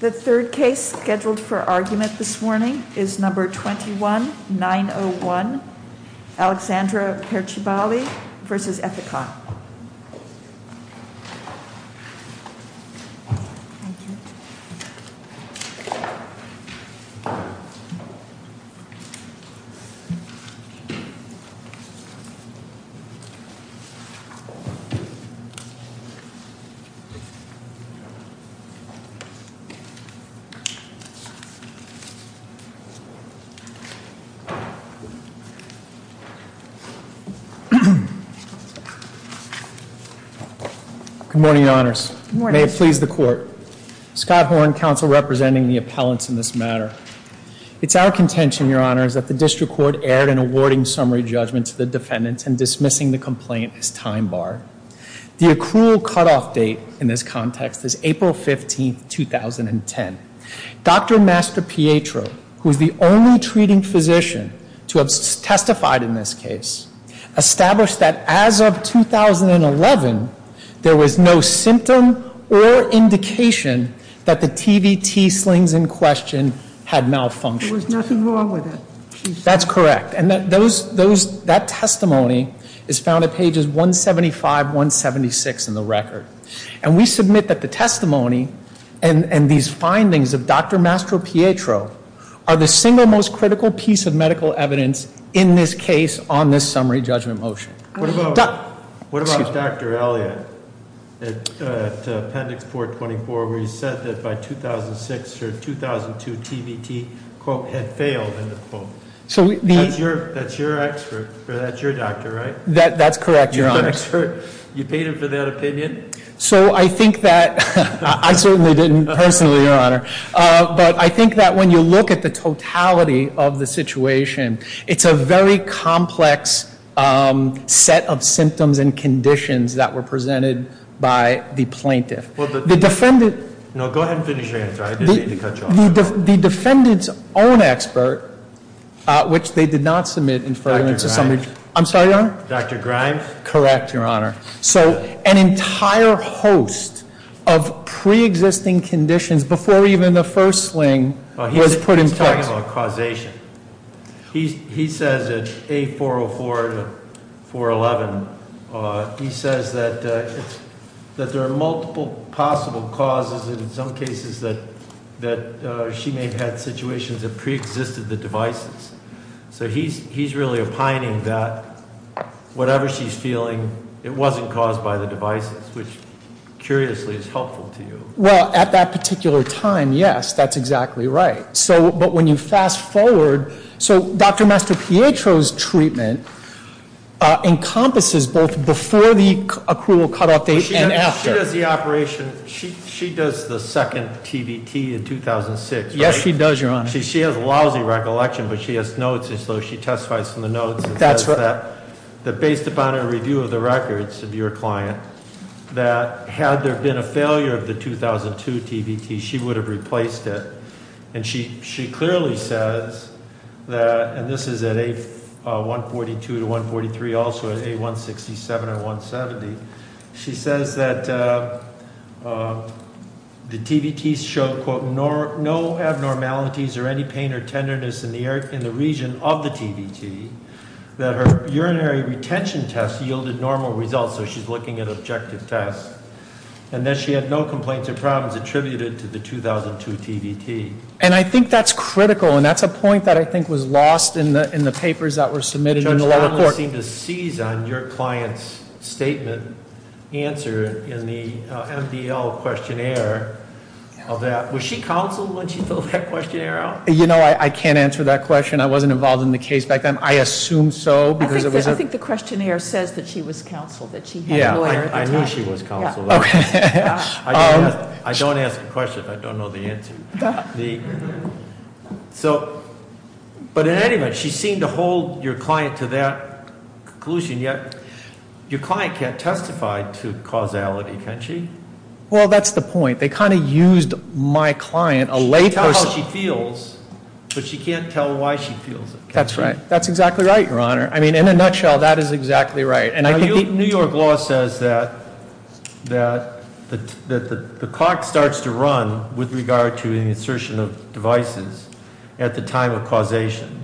The third case scheduled for argument this morning is number 21-901, Alexandra Perciballi v. Ethicon. Good morning, Your Honors. May it please the Court. Scott Horne, counsel representing the appellants in this matter. It's our contention, Your Honors, that the District Court erred in awarding summary judgment to the defendants and dismissing the complaint as time barred. The accrual cutoff date in this context is April 15, 2010. Dr. Master Pietro, who is the only treating physician to have testified in this case, established that as of 2011, there was no symptom or indication that the TVT slings in question had malfunctioned. There was nothing wrong with it. That's correct. And that testimony is found at pages 175-176 in the record. And we submit that the testimony and these findings of Dr. Master Pietro are the single most critical piece of medical evidence in this case on this summary judgment motion. What about Dr. Elliott at Appendix 424, where he said that by 2006 or 2002, TVT had failed? That's your doctor, right? That's correct, Your Honors. You paid him for that opinion? But I think that when you look at the totality of the situation, it's a very complex set of symptoms and conditions that were presented by the plaintiff. No, go ahead and finish your answer. I didn't mean to cut you off. The defendant's own expert, which they did not submit in front of somebody- Dr. Grimes. I'm sorry, Your Honor? Dr. Grimes. Correct, Your Honor. So an entire host of pre-existing conditions before even the first sling was put in place. He's talking about causation. He says at A404 to 411, he says that there are multiple possible causes, and in some cases that she may have had situations that pre-existed the devices. So he's really opining that whatever she's feeling, it wasn't caused by the devices, which curiously is helpful to you. Well, at that particular time, yes, that's exactly right. But when you fast forward, so Dr. Mastropietro's treatment encompasses both before the accrual cutoff date and after. She does the operation, she does the second TVT in 2006, right? Yes, she does, Your Honor. She has lousy recollection, but she has notes, so she testifies in the notes. That's right. That based upon a review of the records of your client, that had there been a failure of the 2002 TVT, she would have replaced it. And she clearly says that, and this is at A142 to 143, also at A167 and 170. She says that the TVTs show, quote, no abnormalities or any pain or tenderness in the region of the TVT, that her urinary retention test yielded normal results. So she's looking at objective tests. And that she had no complaints or problems attributed to the 2002 TVT. And I think that's critical, and that's a point that I think was lost in the papers that were submitted in the lower court. You seem to seize on your client's statement answer in the MDL questionnaire of that. Was she counseled when she filled that questionnaire out? You know, I can't answer that question. I wasn't involved in the case back then. I assume so, because it was- I think the questionnaire says that she was counseled, that she had a lawyer at the time. Yeah, I knew she was counseled. Okay. I don't ask a question if I don't know the answer. So, but in any event, she seemed to hold your client to that conclusion. Yet, your client can't testify to causality, can she? Well, that's the point. They kind of used my client, a layperson- She can tell how she feels, but she can't tell why she feels it. That's right. That's exactly right, Your Honor. I mean, in a nutshell, that is exactly right. New York law says that the clock starts to run with regard to the insertion of devices at the time of causation.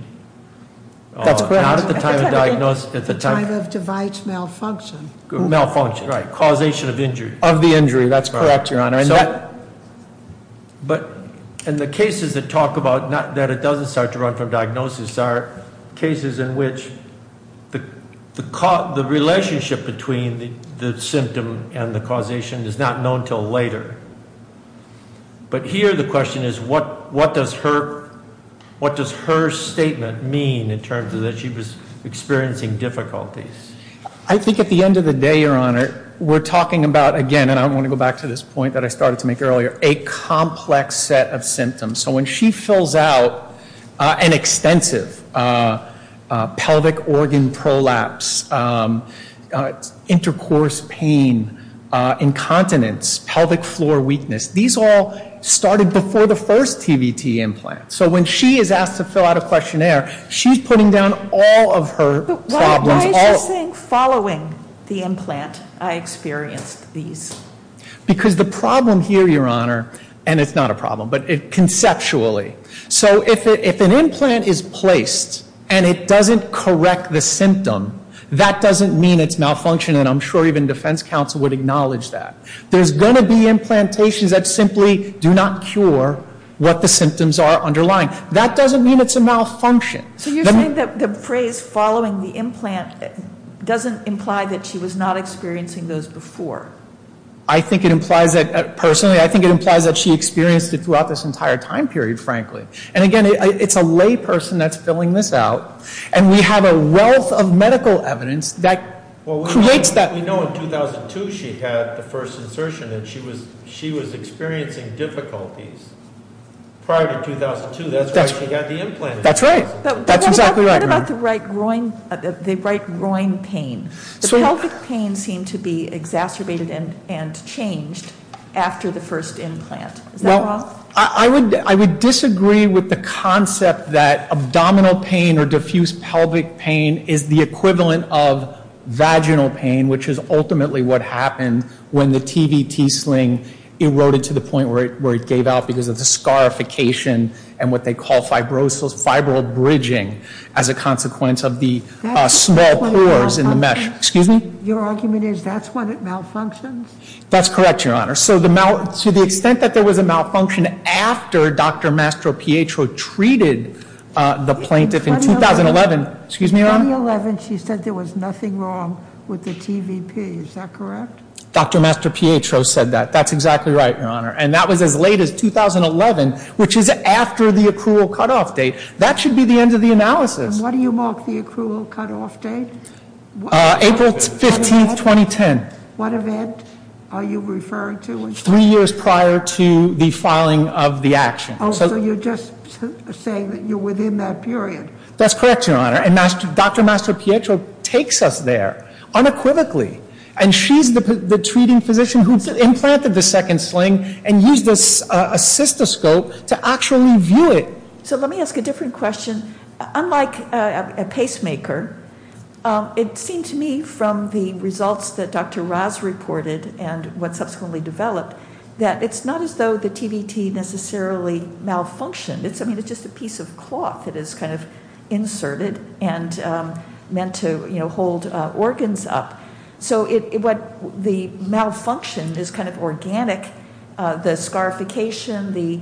That's correct. Not at the time of diagnosis. At the time of device malfunction. Malfunction, right. Causation of injury. Of the injury, that's correct, Your Honor. But in the cases that talk about that it doesn't start to run from diagnosis are cases in which the relationship between the symptom and the causation is not known until later. But here the question is, what does her statement mean in terms of that she was experiencing difficulties? I think at the end of the day, Your Honor, we're talking about, again, and I want to go back to this point that I started to make earlier, a complex set of symptoms. So when she fills out an extensive pelvic organ prolapse, intercourse pain, incontinence, pelvic floor weakness, these all started before the first TVT implant. So when she is asked to fill out a questionnaire, she's putting down all of her problems. Why is she saying following the implant I experienced these? Because the problem here, Your Honor, and it's not a problem, but conceptually. So if an implant is placed and it doesn't correct the symptom, that doesn't mean it's malfunctioning. And I'm sure even defense counsel would acknowledge that. There's going to be implantations that simply do not cure what the symptoms are underlying. That doesn't mean it's a malfunction. So you're saying that the phrase following the implant doesn't imply that she was not experiencing those before? I think it implies that personally. I think it implies that she experienced it throughout this entire time period, frankly. And, again, it's a layperson that's filling this out, and we have a wealth of medical evidence that creates that. Well, we know in 2002 she had the first insertion, and she was experiencing difficulties prior to 2002. That's why she got the implant. That's right. That's exactly right, Your Honor. But what about the right groin pain? The pelvic pain seemed to be exacerbated and changed after the first implant. Is that wrong? Well, I would disagree with the concept that abdominal pain or diffuse pelvic pain is the equivalent of vaginal pain, which is ultimately what happened when the TVT sling eroded to the point where it gave out because of the scarification and what they call fibro bridging as a consequence of the small pores in the mesh. Excuse me? Your argument is that's when it malfunctions? That's correct, Your Honor. To the extent that there was a malfunction after Dr. Mastropietro treated the plaintiff in 2011 she said there was nothing wrong with the TVP. Is that correct? Dr. Mastropietro said that. That's exactly right, Your Honor. And that was as late as 2011, which is after the accrual cutoff date. That should be the end of the analysis. And what do you mark the accrual cutoff date? April 15, 2010. What event are you referring to? Three years prior to the filing of the action. Oh, so you're just saying that you're within that period. That's correct, Your Honor. And Dr. Mastropietro takes us there unequivocally, and she's the treating physician who implanted the second sling and used a cystoscope to actually view it. So let me ask a different question. Unlike a pacemaker, it seemed to me from the results that Dr. Raz reported and what subsequently developed that it's not as though the TVT necessarily malfunctioned. I mean, it's just a piece of cloth that is kind of inserted and meant to hold organs up. So the malfunction is kind of organic, the scarification, the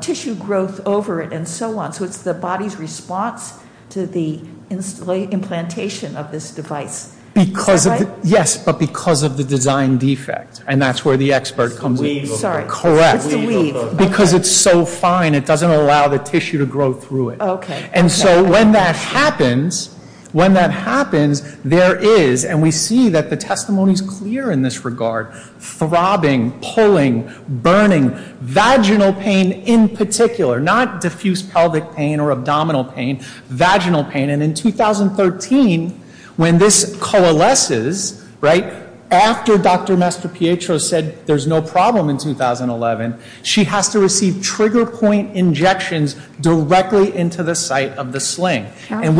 tissue growth over it, and so on. So it's the body's response to the implantation of this device. Yes, but because of the design defect, and that's where the expert comes in. It's the weave. Correct. It's the weave. Because it's so fine, it doesn't allow the tissue to grow through it. Okay. And so when that happens, when that happens, there is, and we see that the testimony is clear in this regard, throbbing, pulling, burning, vaginal pain in particular, not diffuse pelvic pain or abdominal pain, vaginal pain. And in 2013, when this coalesces, right, after Dr. Mastropietro said there's no problem in 2011, she has to receive trigger point injections directly into the site of the sling. And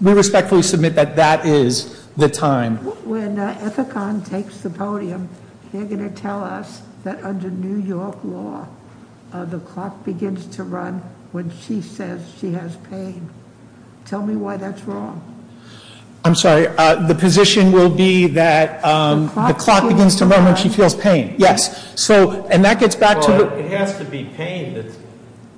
we respectfully submit that that is the time. When Ethicon takes the podium, they're going to tell us that under New York law, the clock begins to run when she says she has pain. Tell me why that's wrong. I'm sorry. The position will be that the clock begins to run when she feels pain. Yes. So, and that gets back to- Well, it has to be pain.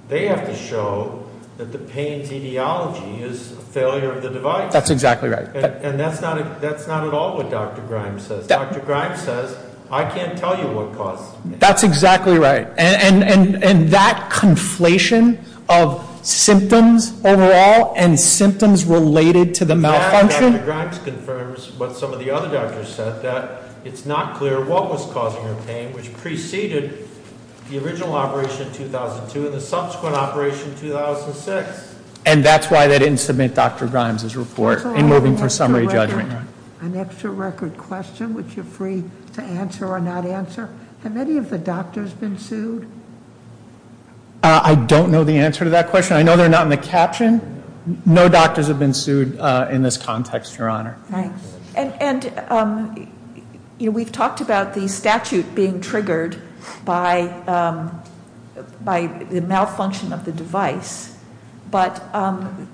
They have to show that the pain's etiology is failure of the device. That's exactly right. And that's not at all what Dr. Grimes says. Dr. Grimes says, I can't tell you what caused it. That's exactly right. And that conflation of symptoms overall and symptoms related to the malfunction- And that, Dr. Grimes confirms, what some of the other doctors said, that it's not clear what was causing her pain, which preceded the original operation in 2002 and the subsequent operation in 2006. And that's why they didn't submit Dr. Grimes' report in moving for summary judgment. An extra record question, which you're free to answer or not answer. Have any of the doctors been sued? I don't know the answer to that question. I know they're not in the caption. No doctors have been sued in this context, Your Honor. Thanks. And we've talked about the statute being triggered by the malfunction of the device, but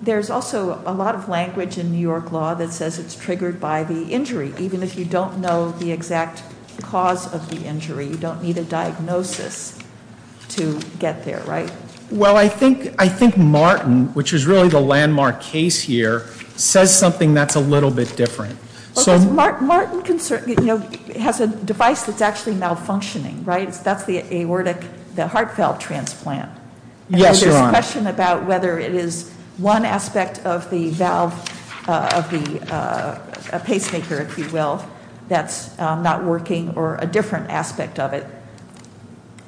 there's also a lot of language in New York law that says it's triggered by the injury, even if you don't know the exact cause of the injury. You don't need a diagnosis to get there, right? Well, I think Martin, which is really the landmark case here, says something that's a little bit different. Martin has a device that's actually malfunctioning, right? That's the aortic heart valve transplant. Yes, Your Honor. It's a question about whether it is one aspect of the valve of the pacemaker, if you will, that's not working or a different aspect of it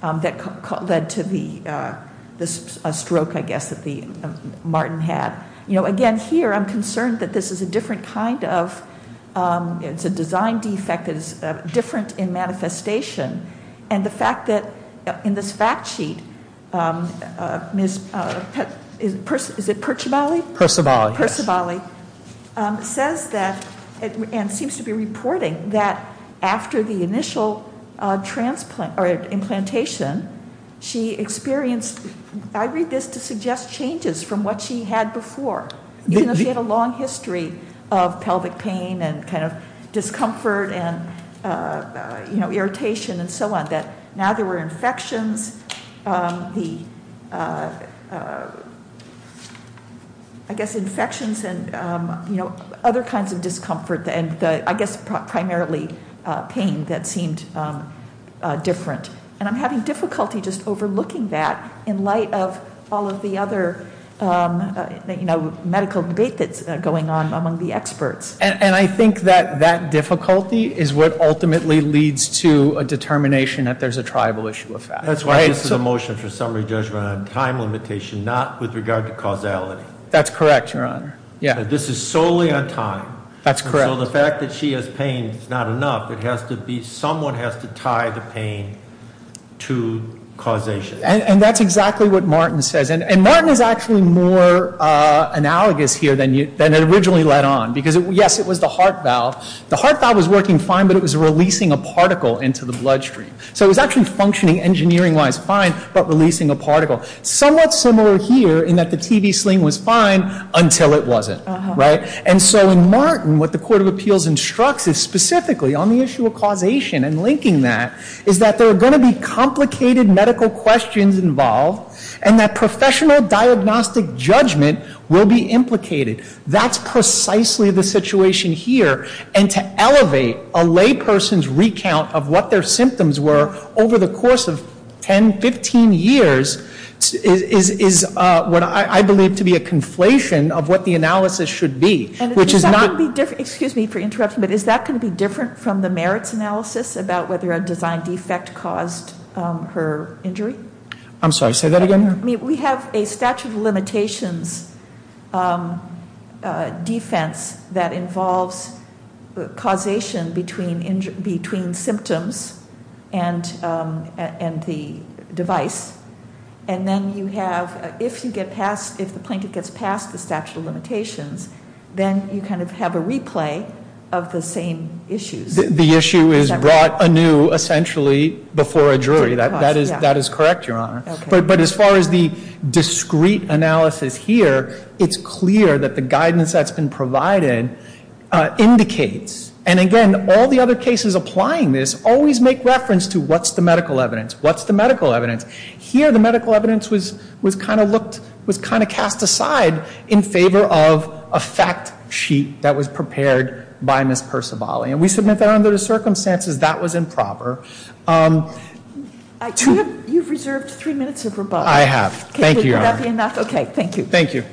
that led to the stroke, I guess, that Martin had. Again, here, I'm concerned that this is a different kind of, it's a design defect that is different in manifestation. And the fact that in this fact sheet, is it Percivali? Percivali, yes. Percivali says that, and seems to be reporting that after the initial implantation, she experienced, I read this to suggest changes from what she had before. Even though she had a long history of pelvic pain and kind of discomfort and irritation and so on, that now there were infections. I guess infections and other kinds of discomfort and I guess primarily pain that seemed different. And I'm having difficulty just overlooking that in light of all of the other medical debate that's going on among the experts. And I think that that difficulty is what ultimately leads to a determination that there's a tribal issue of fact. That's why this is a motion for summary judgment on time limitation, not with regard to causality. That's correct, Your Honor. Yeah. This is solely on time. That's correct. So the fact that she has pain is not enough. Someone has to tie the pain to causation. And that's exactly what Martin says. And Martin is actually more analogous here than it originally led on. Because yes, it was the heart valve. The heart valve was working fine, but it was releasing a particle into the bloodstream. So it was actually functioning engineering-wise fine, but releasing a particle. Somewhat similar here in that the TV sling was fine until it wasn't. And so in Martin, what the Court of Appeals instructs is specifically on the issue of causation and linking that, is that there are going to be complicated medical questions involved and that professional diagnostic judgment will be implicated. That's precisely the situation here. And to elevate a layperson's recount of what their symptoms were over the course of 10, 15 years is what I believe to be a conflation of what the analysis should be. And is that going to be different, excuse me for interrupting, but is that going to be different from the merits analysis about whether a design defect caused her injury? I'm sorry, say that again? We have a statute of limitations defense that involves causation between symptoms and the device. And then you have, if the plaintiff gets past the statute of limitations, then you kind of have a replay of the same issues. The issue is brought anew essentially before a jury. That is correct, Your Honor. But as far as the discrete analysis here, it's clear that the guidance that's been provided indicates, and again, all the other cases applying this always make reference to what's the medical evidence? What's the medical evidence? Here the medical evidence was kind of looked, was kind of cast aside in favor of a fact sheet that was prepared by Ms. Percivali. And we submit that under the circumstances that was improper. You've reserved three minutes of rebuttal. I have. Thank you, Your Honor. Okay, thank you. Thank you.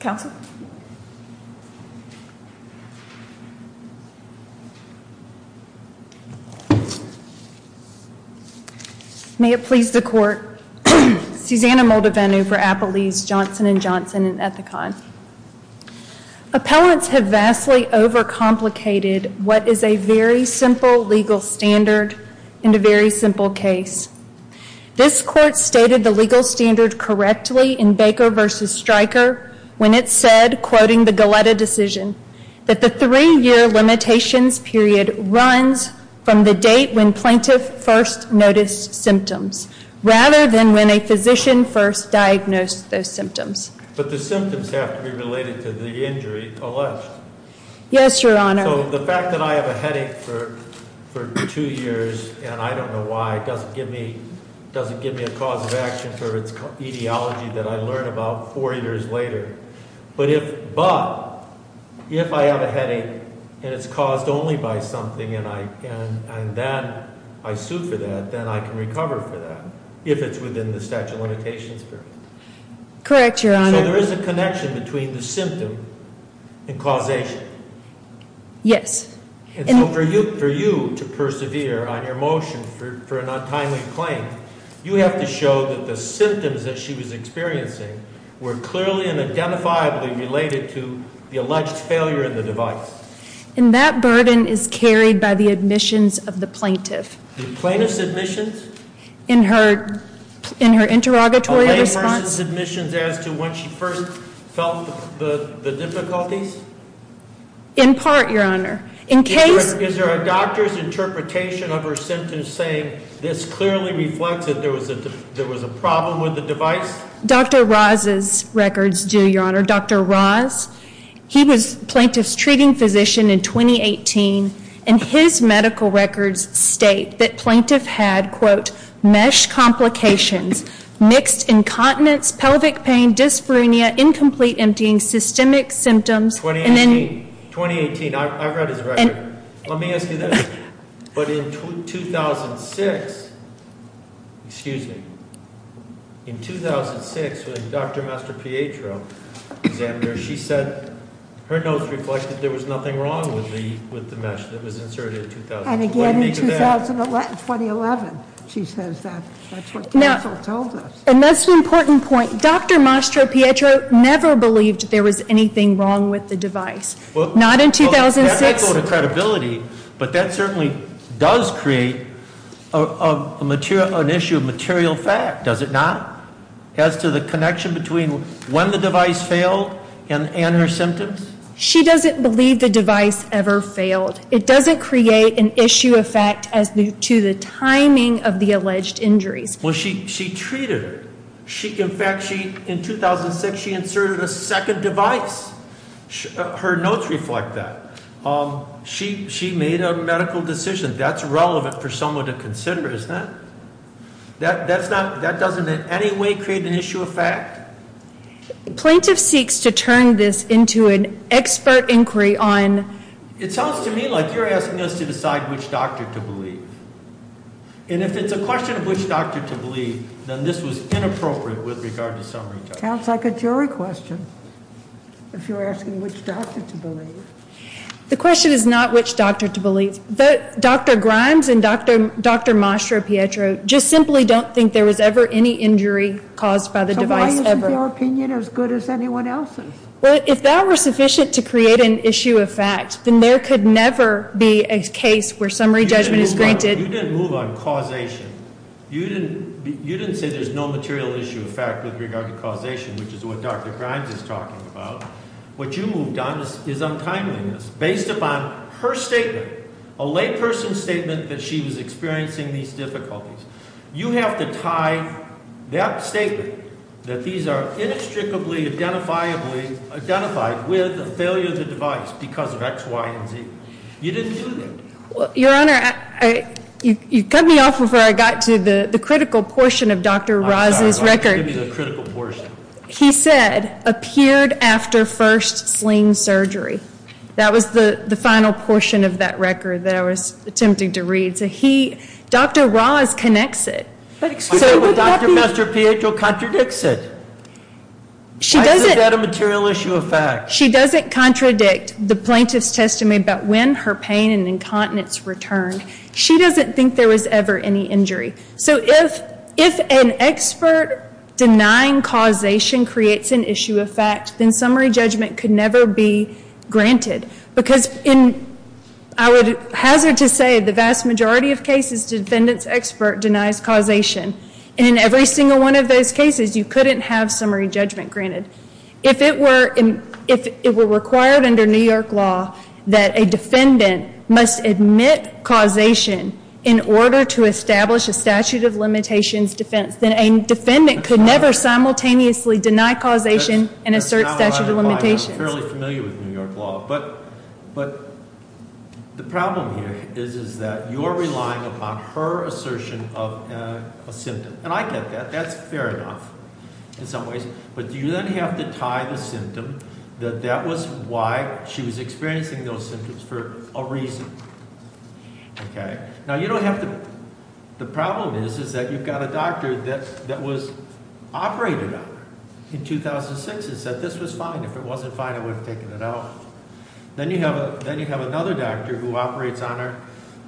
Counsel? May it please the court. Susanna Moldavenu for Appelese, Johnson & Johnson and Ethicon. Appellants have vastly overcomplicated what is a very simple legal standard in a very simple case. This court stated the legal standard correctly in Baker v. Stryker when it said, quoting the Galletta decision, that the three-year limitations period runs from the date when plaintiff first noticed symptoms, rather than when a physician first diagnosed those symptoms. But the symptoms have to be related to the injury alleged. Yes, Your Honor. So the fact that I have a headache for two years, and I don't know why, doesn't give me a cause of action for its etiology that I learn about four years later. But if I have a headache and it's caused only by something and then I sue for that, then I can recover for that if it's within the statute of limitations period. Correct, Your Honor. So there is a connection between the symptom and causation. Yes. And so for you to persevere on your motion for an untimely claim, you have to show that the symptoms that she was experiencing were clearly and identifiably related to the alleged failure of the device. And that burden is carried by the admissions of the plaintiff. The plaintiff's admissions? In her interrogatory response. A layperson's admissions as to when she first felt the difficulties? In part, Your Honor. Is there a doctor's interpretation of her symptoms saying this clearly reflects that there was a problem with the device? He was plaintiff's treating physician in 2018. And his medical records state that plaintiff had, quote, mesh complications, mixed incontinence, pelvic pain, dyspnea, incomplete emptying, systemic symptoms. 2018. 2018. I've read his record. Let me ask you this. But in 2006, excuse me. In 2006, when Dr. Mastropietro examined her, she said her notes reflected there was nothing wrong with the mesh that was inserted in 2000. And again in 2011, she says that. That's what counsel told us. And that's an important point. Dr. Mastropietro never believed there was anything wrong with the device. Not in 2006. That might go to credibility, but that certainly does create an issue of material fact, does it not? As to the connection between when the device failed and her symptoms? She doesn't believe the device ever failed. It doesn't create an issue of fact as to the timing of the alleged injuries. Well, she treated her. In fact, in 2006, she inserted a second device. Her notes reflect that. She made a medical decision. That's relevant for someone to consider, isn't it? That doesn't in any way create an issue of fact? Plaintiff seeks to turn this into an expert inquiry on. It sounds to me like you're asking us to decide which doctor to believe. And if it's a question of which doctor to believe, then this was inappropriate with regard to summary judgment. It sounds like a jury question if you're asking which doctor to believe. The question is not which doctor to believe. Dr. Grimes and Dr. Mastropietro just simply don't think there was ever any injury caused by the device ever. So why isn't your opinion as good as anyone else's? Well, if that were sufficient to create an issue of fact, then there could never be a case where summary judgment is granted. You didn't move on causation. You didn't say there's no material issue of fact with regard to causation, which is what Dr. Grimes is talking about. What you moved on is untimeliness. Based upon her statement, a layperson's statement that she was experiencing these difficulties, you have to tie that statement, that these are inextricably identifiably identified, with a failure of the device because of X, Y, and Z. You didn't do that. Your Honor, you cut me off before I got to the critical portion of Dr. Ross's record. I'm sorry. I'll give you the critical portion. He said, appeared after first sling surgery. That was the final portion of that record that I was attempting to read. So Dr. Ross connects it. I know, but Dr. Mastropietro contradicts it. Why isn't that a material issue of fact? She doesn't contradict the plaintiff's testimony about when her pain and incontinence returned. She doesn't think there was ever any injury. So if an expert denying causation creates an issue of fact, then summary judgment could never be granted. Because I would hazard to say the vast majority of cases, the defendant's expert denies causation. And in every single one of those cases, you couldn't have summary judgment granted. If it were required under New York law that a defendant must admit causation in order to establish a statute of limitations defense, then a defendant could never simultaneously deny causation and assert statute of limitations. I'm fairly familiar with New York law. But the problem here is that you're relying upon her assertion of a symptom. And I get that. That's fair enough in some ways. But you then have to tie the symptom that that was why she was experiencing those symptoms for a reason. Now you don't have to – the problem is that you've got a doctor that was operated on her in 2006 and said this was fine. If it wasn't fine, I would have taken it out. Then you have another doctor who operates on her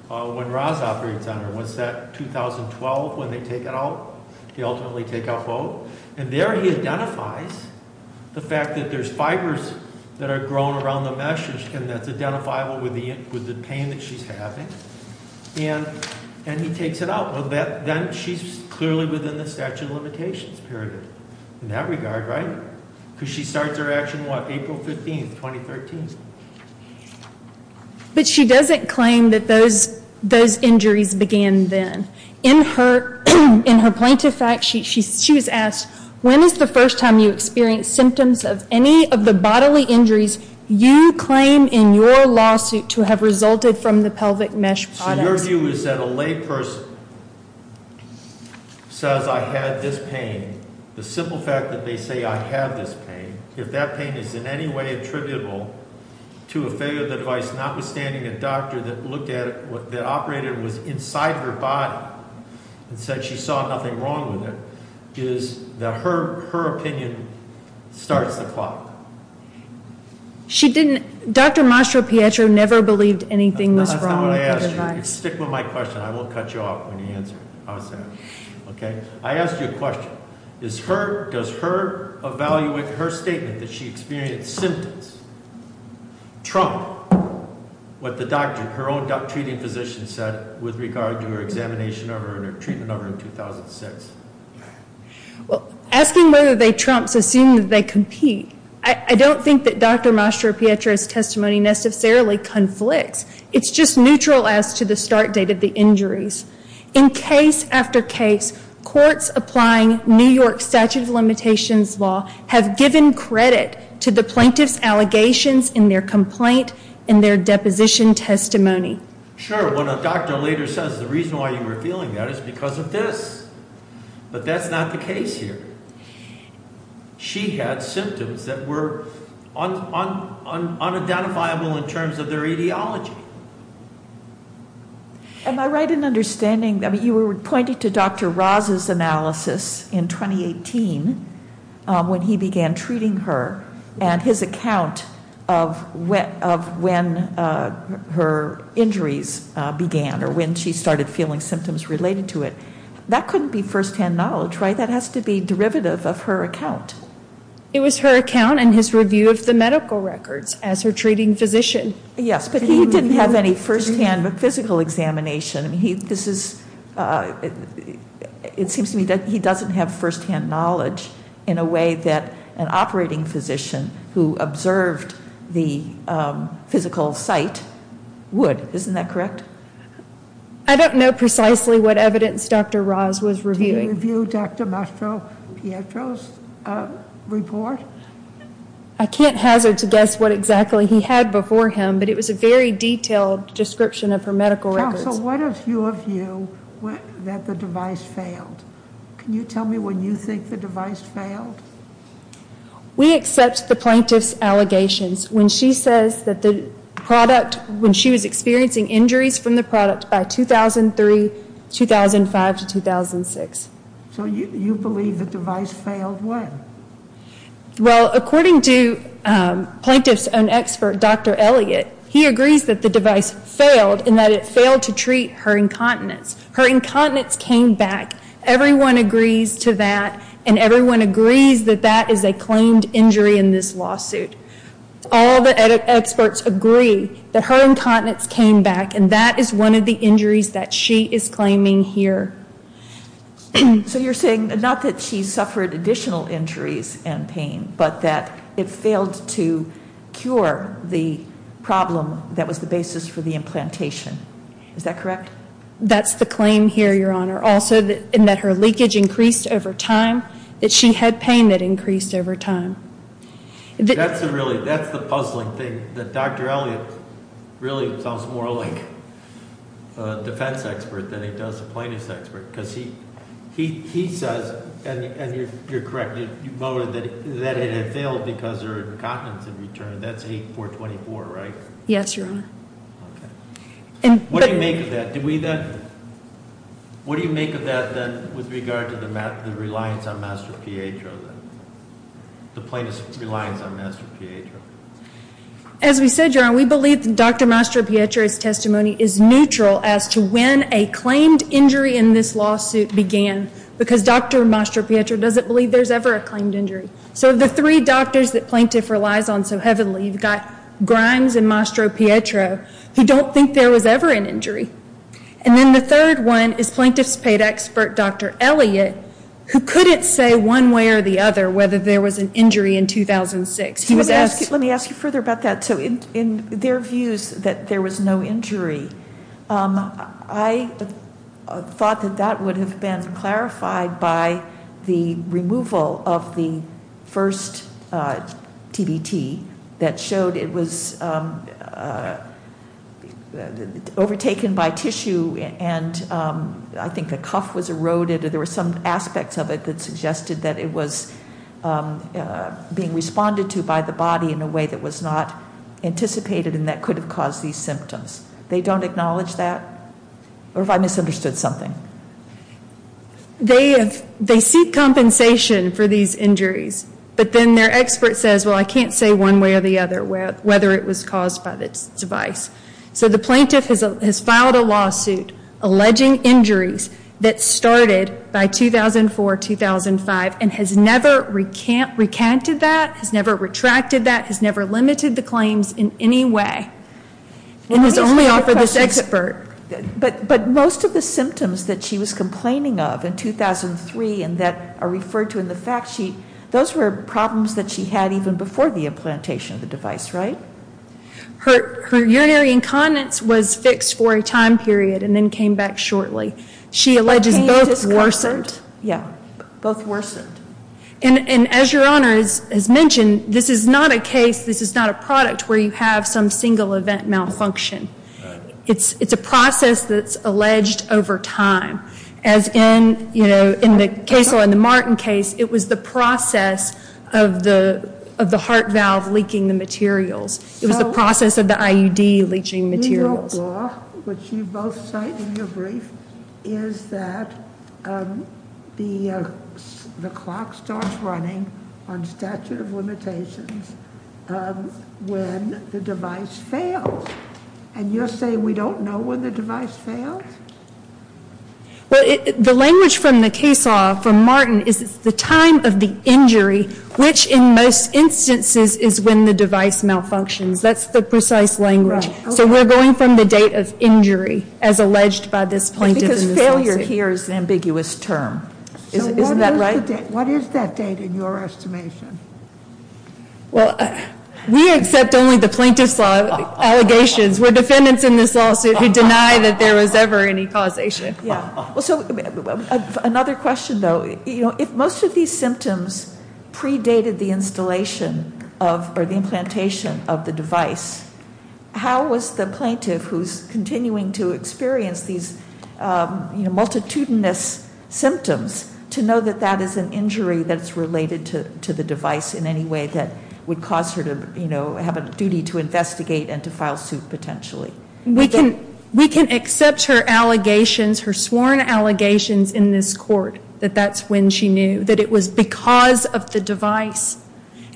when Roz operates on her. Was that 2012 when they take it out? He ultimately take out both. And there he identifies the fact that there's fibers that are grown around the mesh and that's identifiable with the pain that she's having. And he takes it out. Well, then she's clearly within the statute of limitations period in that regard, right? Because she starts her action, what, April 15th, 2013? But she doesn't claim that those injuries began then. In her plaintiff fact, she was asked, when is the first time you experienced symptoms of any of the bodily injuries you claim in your lawsuit to have resulted from the pelvic mesh product? So your view is that a lay person says I had this pain, the simple fact that they say I have this pain, if that pain is in any way attributable to a failure of the device, notwithstanding a doctor that looked at it, that operated it was inside her body and said she saw nothing wrong with it, is that her opinion starts the clock? She didn't, Dr. Mastropietro never believed anything was wrong with the device. That's not what I asked you. Stick with my question. I won't cut you off when you answer. How's that? Okay. I asked you a question. Is her, does her evaluation, her statement that she experienced symptoms trump what the doctor, her own treating physician said with regard to her examination of her and her treatment of her in 2006? Well, asking whether they trump is assuming that they compete. I don't think that Dr. Mastropietro's testimony necessarily conflicts. It's just neutral as to the start date of the injuries. In case after case, courts applying New York statute of limitations law have given credit to the plaintiff's allegations in their complaint and their deposition testimony. Sure, when a doctor later says the reason why you were feeling that is because of this. But that's not the case here. She had symptoms that were unidentifiable in terms of their ideology. Am I right in understanding, I mean, you were pointing to Dr. Ra's analysis in 2018 when he began treating her and his account of when her injuries began or when she started feeling symptoms related to it. That couldn't be firsthand knowledge, right? That has to be derivative of her account. It was her account and his review of the medical records as her treating physician. Yes, but he didn't have any firsthand physical examination. It seems to me that he doesn't have firsthand knowledge in a way that an operating physician who observed the physical site would. Isn't that correct? I don't know precisely what evidence Dr. Ra's was reviewing. Did you review Dr. Mastropietro's report? I can't hazard to guess what exactly he had before him, but it was a very detailed description of her medical records. Counsel, what is your view that the device failed? Can you tell me when you think the device failed? We accept the plaintiff's allegations when she says that the product, when she was experiencing injuries from the product by 2003, 2005 to 2006. So you believe the device failed when? Well, according to plaintiff's own expert, Dr. Elliott, he agrees that the device failed and that it failed to treat her incontinence. Her incontinence came back. Everyone agrees to that, and everyone agrees that that is a claimed injury in this lawsuit. All the experts agree that her incontinence came back, and that is one of the injuries that she is claiming here. So you're saying not that she suffered additional injuries and pain, but that it failed to cure the problem that was the basis for the implantation. Is that correct? That's the claim here, Your Honor. Also, in that her leakage increased over time, that she had pain that increased over time. That's the really, that's the puzzling thing, that Dr. Elliott really sounds more like a defense expert than he does a plaintiff's expert, because he says, and you're correct, you voted that it had failed because her incontinence had returned. That's 8-424, right? Yes, Your Honor. Okay. What do you make of that? Do we then, what do you make of that then with regard to the reliance on Master PHO then? The plaintiff's reliance on Master PHO. As we said, Your Honor, we believe that Dr. Mastro-Pietro's testimony is neutral as to when a claimed injury in this lawsuit began, because Dr. Mastro-Pietro doesn't believe there's ever a claimed injury. So the three doctors that plaintiff relies on so heavily, you've got Grimes and Mastro-Pietro, who don't think there was ever an injury. And then the third one is plaintiff's paid expert, Dr. Elliott, who couldn't say one way or the other whether there was an injury in 2006. Let me ask you further about that. So in their views that there was no injury, I thought that that would have been clarified by the removal of the first TBT that showed it was overtaken by tissue and I think the cuff was eroded or there were some aspects of it that suggested that it was being responded to by the body in a way that was not anticipated and that could have caused these symptoms. They don't acknowledge that? Or have I misunderstood something? They seek compensation for these injuries, but then their expert says, well, I can't say one way or the other whether it was caused by this device. So the plaintiff has filed a lawsuit alleging injuries that started by 2004, 2005, and has never recanted that, has never retracted that, has never limited the claims in any way, and has only offered this expert. But most of the symptoms that she was complaining of in 2003 and that are referred to in the fact sheet, those were problems that she had even before the implantation of the device, right? Her urinary incontinence was fixed for a time period and then came back shortly. She alleges both worsened. Yeah, both worsened. And as Your Honor has mentioned, this is not a case, this is not a product where you have some single event malfunction. It's a process that's alleged over time. As in, you know, in the Case Law and the Martin case, it was the process of the heart valve leaking the materials. It was the process of the IUD leaching materials. The New York law, which you both cite in your brief, is that the clock starts running on statute of limitations when the device fails. And you're saying we don't know when the device fails? Well, the language from the case law for Martin is it's the time of the injury, which in most instances is when the device malfunctions. That's the precise language. So we're going from the date of injury as alleged by this plaintiff in this lawsuit. Because failure here is an ambiguous term. Isn't that right? So what is that date in your estimation? Well, we accept only the plaintiff's allegations. We're defendants in this lawsuit who deny that there was ever any causation. Yeah. Well, so another question, though, if most of these symptoms predated the installation of or the implantation of the device, how was the plaintiff who's continuing to experience these multitudinous symptoms to know that that is an injury that's related to the device in any way that would cause her to, you know, have a duty to investigate and to file suit potentially? We can accept her allegations, her sworn allegations in this court, that that's when she knew that it was because of the device.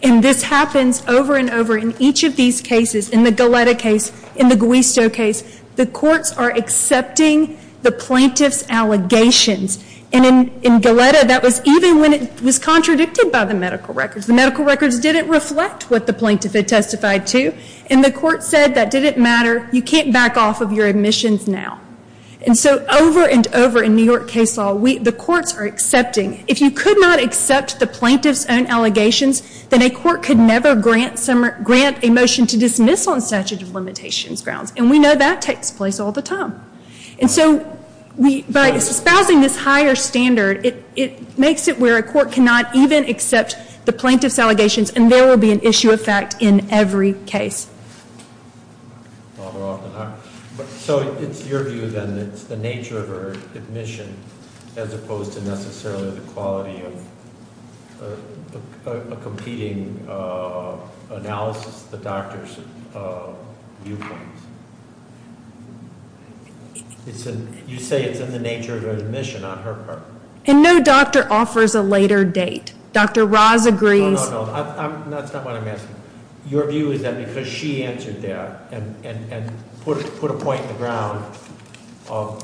And this happens over and over in each of these cases, in the Galletta case, in the Guisto case. The courts are accepting the plaintiff's allegations. And in Galletta, that was even when it was contradicted by the medical records. The medical records didn't reflect what the plaintiff had testified to, and the court said that didn't matter, you can't back off of your admissions now. And so over and over in New York case law, the courts are accepting. If you could not accept the plaintiff's own allegations, then a court could never grant a motion to dismiss on statute of limitations grounds. And we know that takes place all the time. And so by espousing this higher standard, it makes it where a court cannot even accept the plaintiff's allegations, and there will be an issue of fact in every case. So it's your view, then, that it's the nature of her admission as opposed to necessarily the quality of a competing analysis, the doctor's viewpoint. You say it's in the nature of her admission on her part. And no doctor offers a later date. Dr. Ross agrees- No, no, no, that's not what I'm asking. Your view is that because she answered that and put a point in the ground of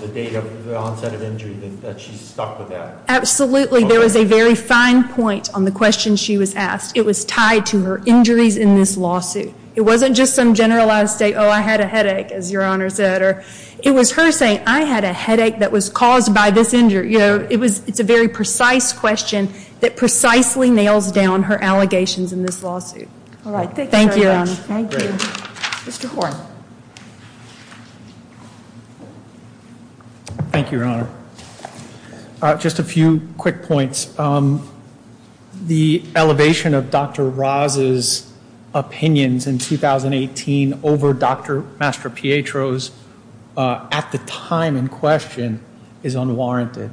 the date of the onset of injury, that she's stuck with that. Absolutely. There was a very fine point on the question she was asked. It was tied to her injuries in this lawsuit. It wasn't just some generalized state, oh, I had a headache, as Your Honor said. It was her saying, I had a headache that was caused by this injury. It's a very precise question that precisely nails down her allegations in this lawsuit. Thank you, Your Honor. Thank you. Mr. Horne. Thank you, Your Honor. Just a few quick points. The elevation of Dr. Ross's opinions in 2018 over Dr. Mastropietro's at the time in question is unwarranted.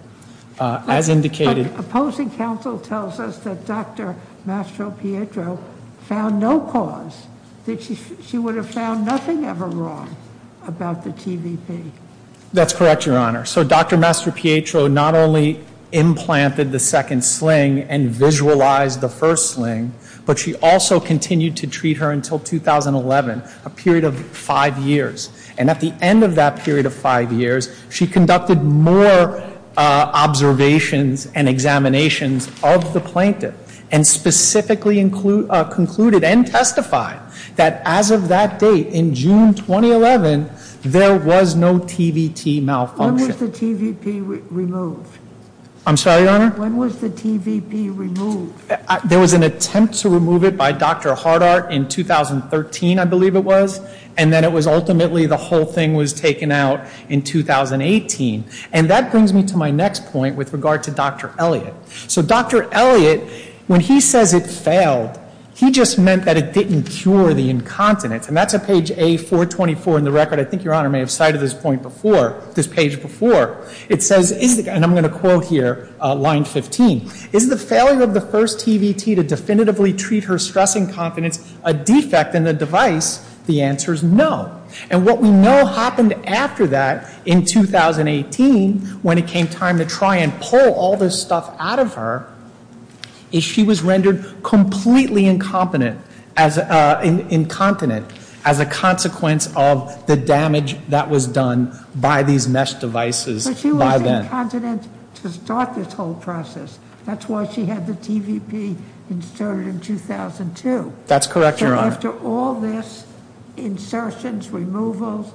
As indicated- Opposing counsel tells us that Dr. Mastropietro found no cause, that she would have found nothing ever wrong about the TVP. That's correct, Your Honor. So Dr. Mastropietro not only implanted the second sling and visualized the first sling, but she also continued to treat her until 2011, a period of five years. And at the end of that period of five years, she conducted more observations and examinations of the plaintiff and specifically concluded and testified that as of that date in June 2011, there was no TVT malfunction. When was the TVP removed? I'm sorry, Your Honor? When was the TVP removed? There was an attempt to remove it by Dr. Hardart in 2013, I believe it was, and then it was ultimately the whole thing was taken out in 2018. And that brings me to my next point with regard to Dr. Elliott. So Dr. Elliott, when he says it failed, he just meant that it didn't cure the incontinence. And that's at page A424 in the record. I think Your Honor may have cited this point before, this page before. It says, and I'm going to quote here line 15, is the failure of the first TVT to definitively treat her stress incontinence a defect in the device? The answer is no. And what we know happened after that in 2018 when it came time to try and pull all this stuff out of her, is she was rendered completely incontinent as a consequence of the damage that was done by these mesh devices by then. But she was incontinent to start this whole process. That's why she had the TVP inserted in 2002. That's correct, Your Honor. And after all this insertions, removals,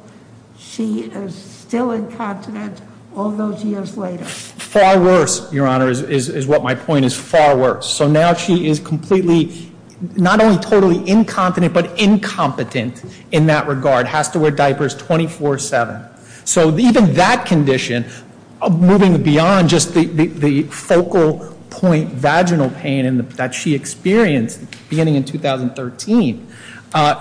she is still incontinent all those years later. Far worse, Your Honor, is what my point is. Far worse. So now she is completely, not only totally incontinent, but incompetent in that regard. Has to wear diapers 24-7. So even that condition, moving beyond just the focal point vaginal pain that she experienced beginning in 2013,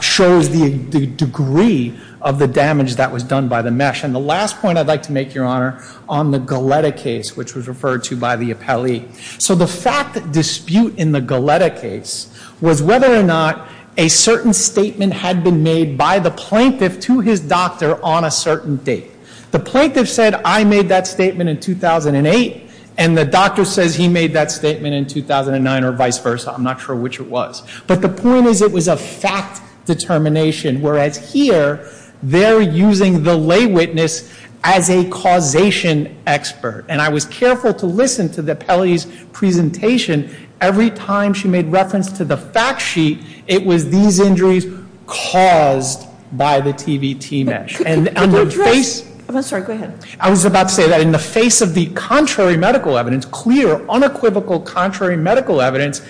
shows the degree of the damage that was done by the mesh. And the last point I'd like to make, Your Honor, on the Galletta case, which was referred to by the appellee. So the fact dispute in the Galletta case was whether or not a certain statement had been made by the plaintiff to his doctor on a certain date. The plaintiff said, I made that statement in 2008, and the doctor says he made that statement in 2009 or vice versa. I'm not sure which it was. But the point is it was a fact determination, whereas here they're using the lay witness as a causation expert. And I was careful to listen to the appellee's presentation. Every time she made reference to the fact sheet, it was these injuries caused by the TVT mesh. Could you address? I'm sorry, go ahead. I was about to say that in the face of the contrary medical evidence, clear, unequivocal contrary medical evidence,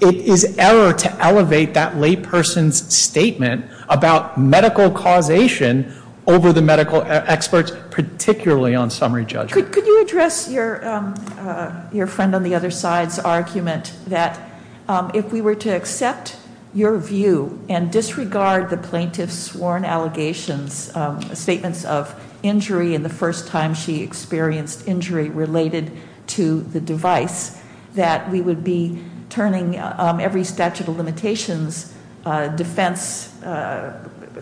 it is error to elevate that lay person's statement about medical causation over the medical experts, particularly on summary judgment. Could you address your friend on the other side's argument that if we were to accept your view and disregard the plaintiff's sworn allegations, statements of injury and the first time she experienced injury related to the device, that we would be turning every statute of limitations defense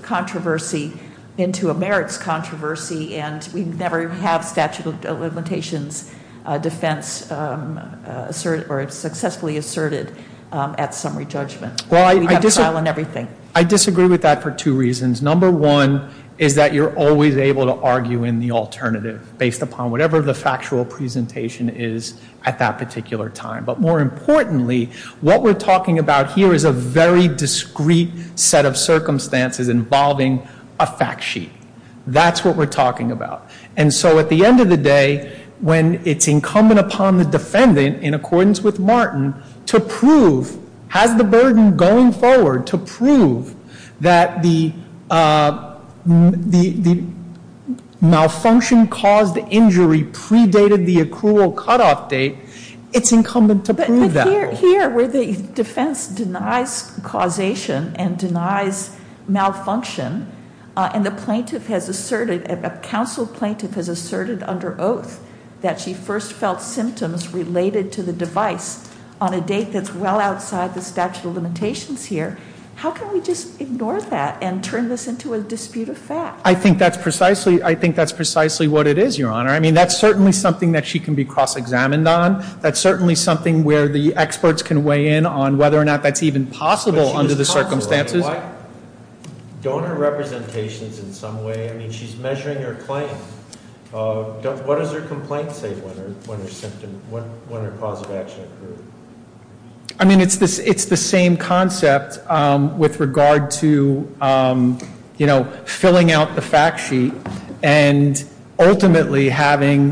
controversy into a merits controversy. And we never have statute of limitations defense successfully asserted at summary judgment. We have trial and everything. I disagree with that for two reasons. Number one is that you're always able to argue in the alternative based upon whatever the factual presentation is at that particular time. But more importantly, what we're talking about here is a very discreet set of circumstances involving a fact sheet. That's what we're talking about. And so at the end of the day, when it's incumbent upon the defendant, in accordance with Martin, to prove, has the burden going forward to prove that the malfunction caused injury predated the accrual cutoff date, it's incumbent to prove that. But here, where the defense denies causation and denies malfunction, and the plaintiff has asserted, a counsel plaintiff has asserted under oath, that she first felt symptoms related to the device on a date that's well outside the statute of limitations here. How can we just ignore that and turn this into a dispute of fact? I think that's precisely what it is, Your Honor. I mean, that's certainly something that she can be cross-examined on. That's certainly something where the experts can weigh in on whether or not that's even possible under the circumstances. Donor representations in some way, I mean, she's measuring her claim. What does her complaint say when her cause of action occurred? I mean, it's the same concept with regard to filling out the fact sheet and ultimately having,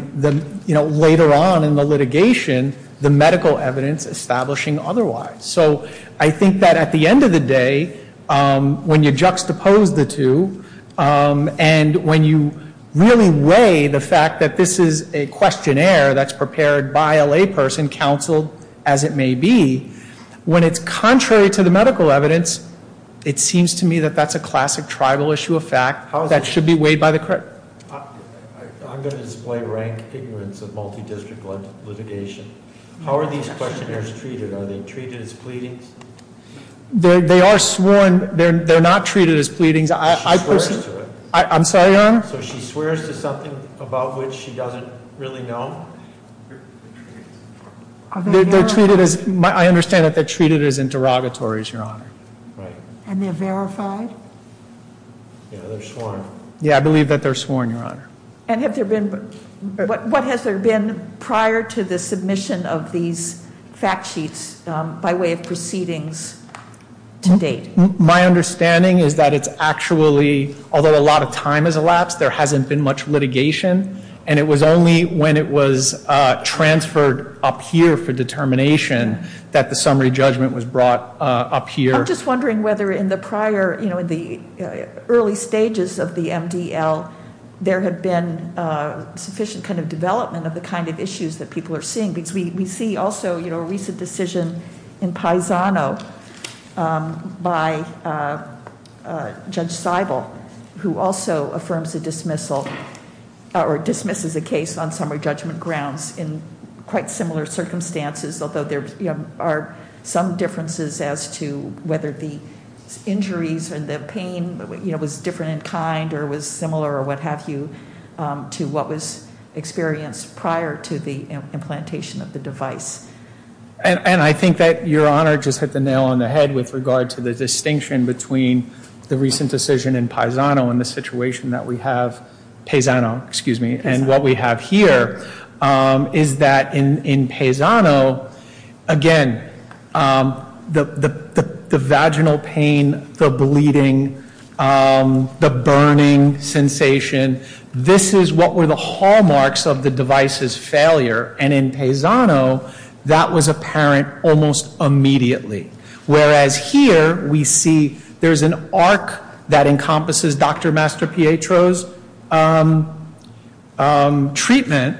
you know, later on in the litigation, the medical evidence establishing otherwise. So I think that at the end of the day, when you juxtapose the two, and when you really weigh the fact that this is a questionnaire that's prepared by a layperson, counseled as it may be, when it's contrary to the medical evidence, it seems to me that that's a classic tribal issue of fact that should be weighed by the court. I'm going to display rank ignorance of multi-district litigation. How are these questionnaires treated? Are they treated as pleadings? They are sworn. They're not treated as pleadings. She swears to it. I'm sorry, Your Honor? So she swears to something about which she doesn't really know? They're treated as, I understand that they're treated as interrogatories, Your Honor. Right. And they're verified? Yeah, they're sworn. Yeah, I believe that they're sworn, Your Honor. And what has there been prior to the submission of these fact sheets by way of proceedings to date? My understanding is that it's actually, although a lot of time has elapsed, there hasn't been much litigation, and it was only when it was transferred up here for determination that the summary judgment was brought up here. I'm just wondering whether in the prior, you know, in the early stages of the MDL, there had been sufficient kind of development of the kind of issues that people are seeing, because we see also, you know, a recent decision in Paisano by Judge Seibel, who also affirms a dismissal or dismisses a case on summary judgment grounds in quite similar circumstances, although there are some differences as to whether the injuries or the pain, you know, was different in kind or was similar or what have you to what was experienced prior to the implantation of the device. And I think that Your Honor just hit the nail on the head with regard to the distinction between the recent decision in Paisano and the situation that we have Paisano, excuse me, and what we have here is that in Paisano, again, the vaginal pain, the bleeding, the burning sensation, this is what were the hallmarks of the device's failure. And in Paisano, that was apparent almost immediately. Whereas here, we see there's an arc that encompasses Dr. Mastropietro's treatment,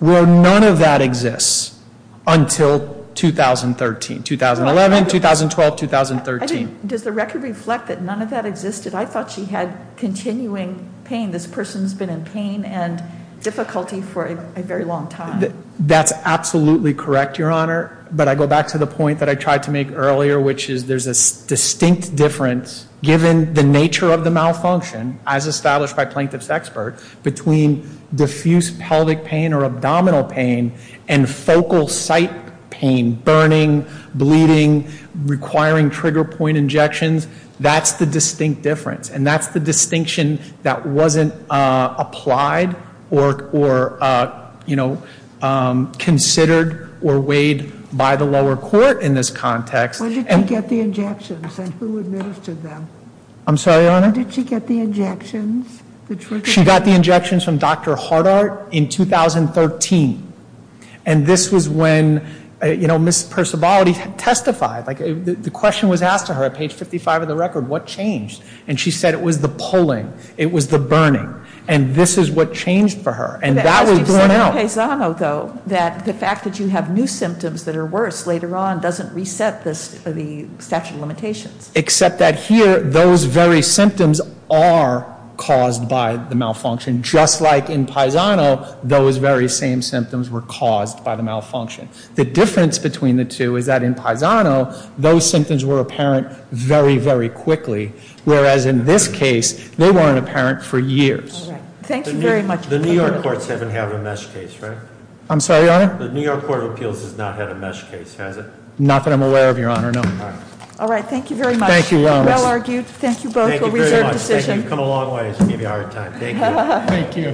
where none of that exists until 2013, 2011, 2012, 2013. Does the record reflect that none of that existed? I thought she had continuing pain. This person's been in pain and difficulty for a very long time. And that's absolutely correct, Your Honor. But I go back to the point that I tried to make earlier, which is there's a distinct difference, given the nature of the malfunction as established by plaintiff's expert, between diffuse pelvic pain or abdominal pain and focal site pain, burning, bleeding, requiring trigger point injections. That's the distinct difference. And that's the distinction that wasn't applied or considered or weighed by the lower court in this context. When did she get the injections and who administered them? I'm sorry, Your Honor? When did she get the injections? She got the injections from Dr. Hardart in 2013. And this was when Ms. Percivality testified. The question was asked to her at page 55 of the record, what changed? And she said it was the pulling. It was the burning. And this is what changed for her. And that was borne out. You said in Paisano, though, that the fact that you have new symptoms that are worse later on doesn't reset the statute of limitations. Except that here, those very symptoms are caused by the malfunction. Just like in Paisano, those very same symptoms were caused by the malfunction. The difference between the two is that in Paisano, those symptoms were apparent very, very quickly. Whereas in this case, they weren't apparent for years. All right. Thank you very much. The New York courts haven't had a MeSH case, right? I'm sorry, Your Honor? The New York Court of Appeals has not had a MeSH case, has it? Not that I'm aware of, Your Honor, no. All right. All right. Thank you very much. Thank you, Your Honor. Well argued. Thank you both for a reserved decision. Thank you very much. Thank you. You've come a long ways. You gave me a hard time. Thank you. Thank you.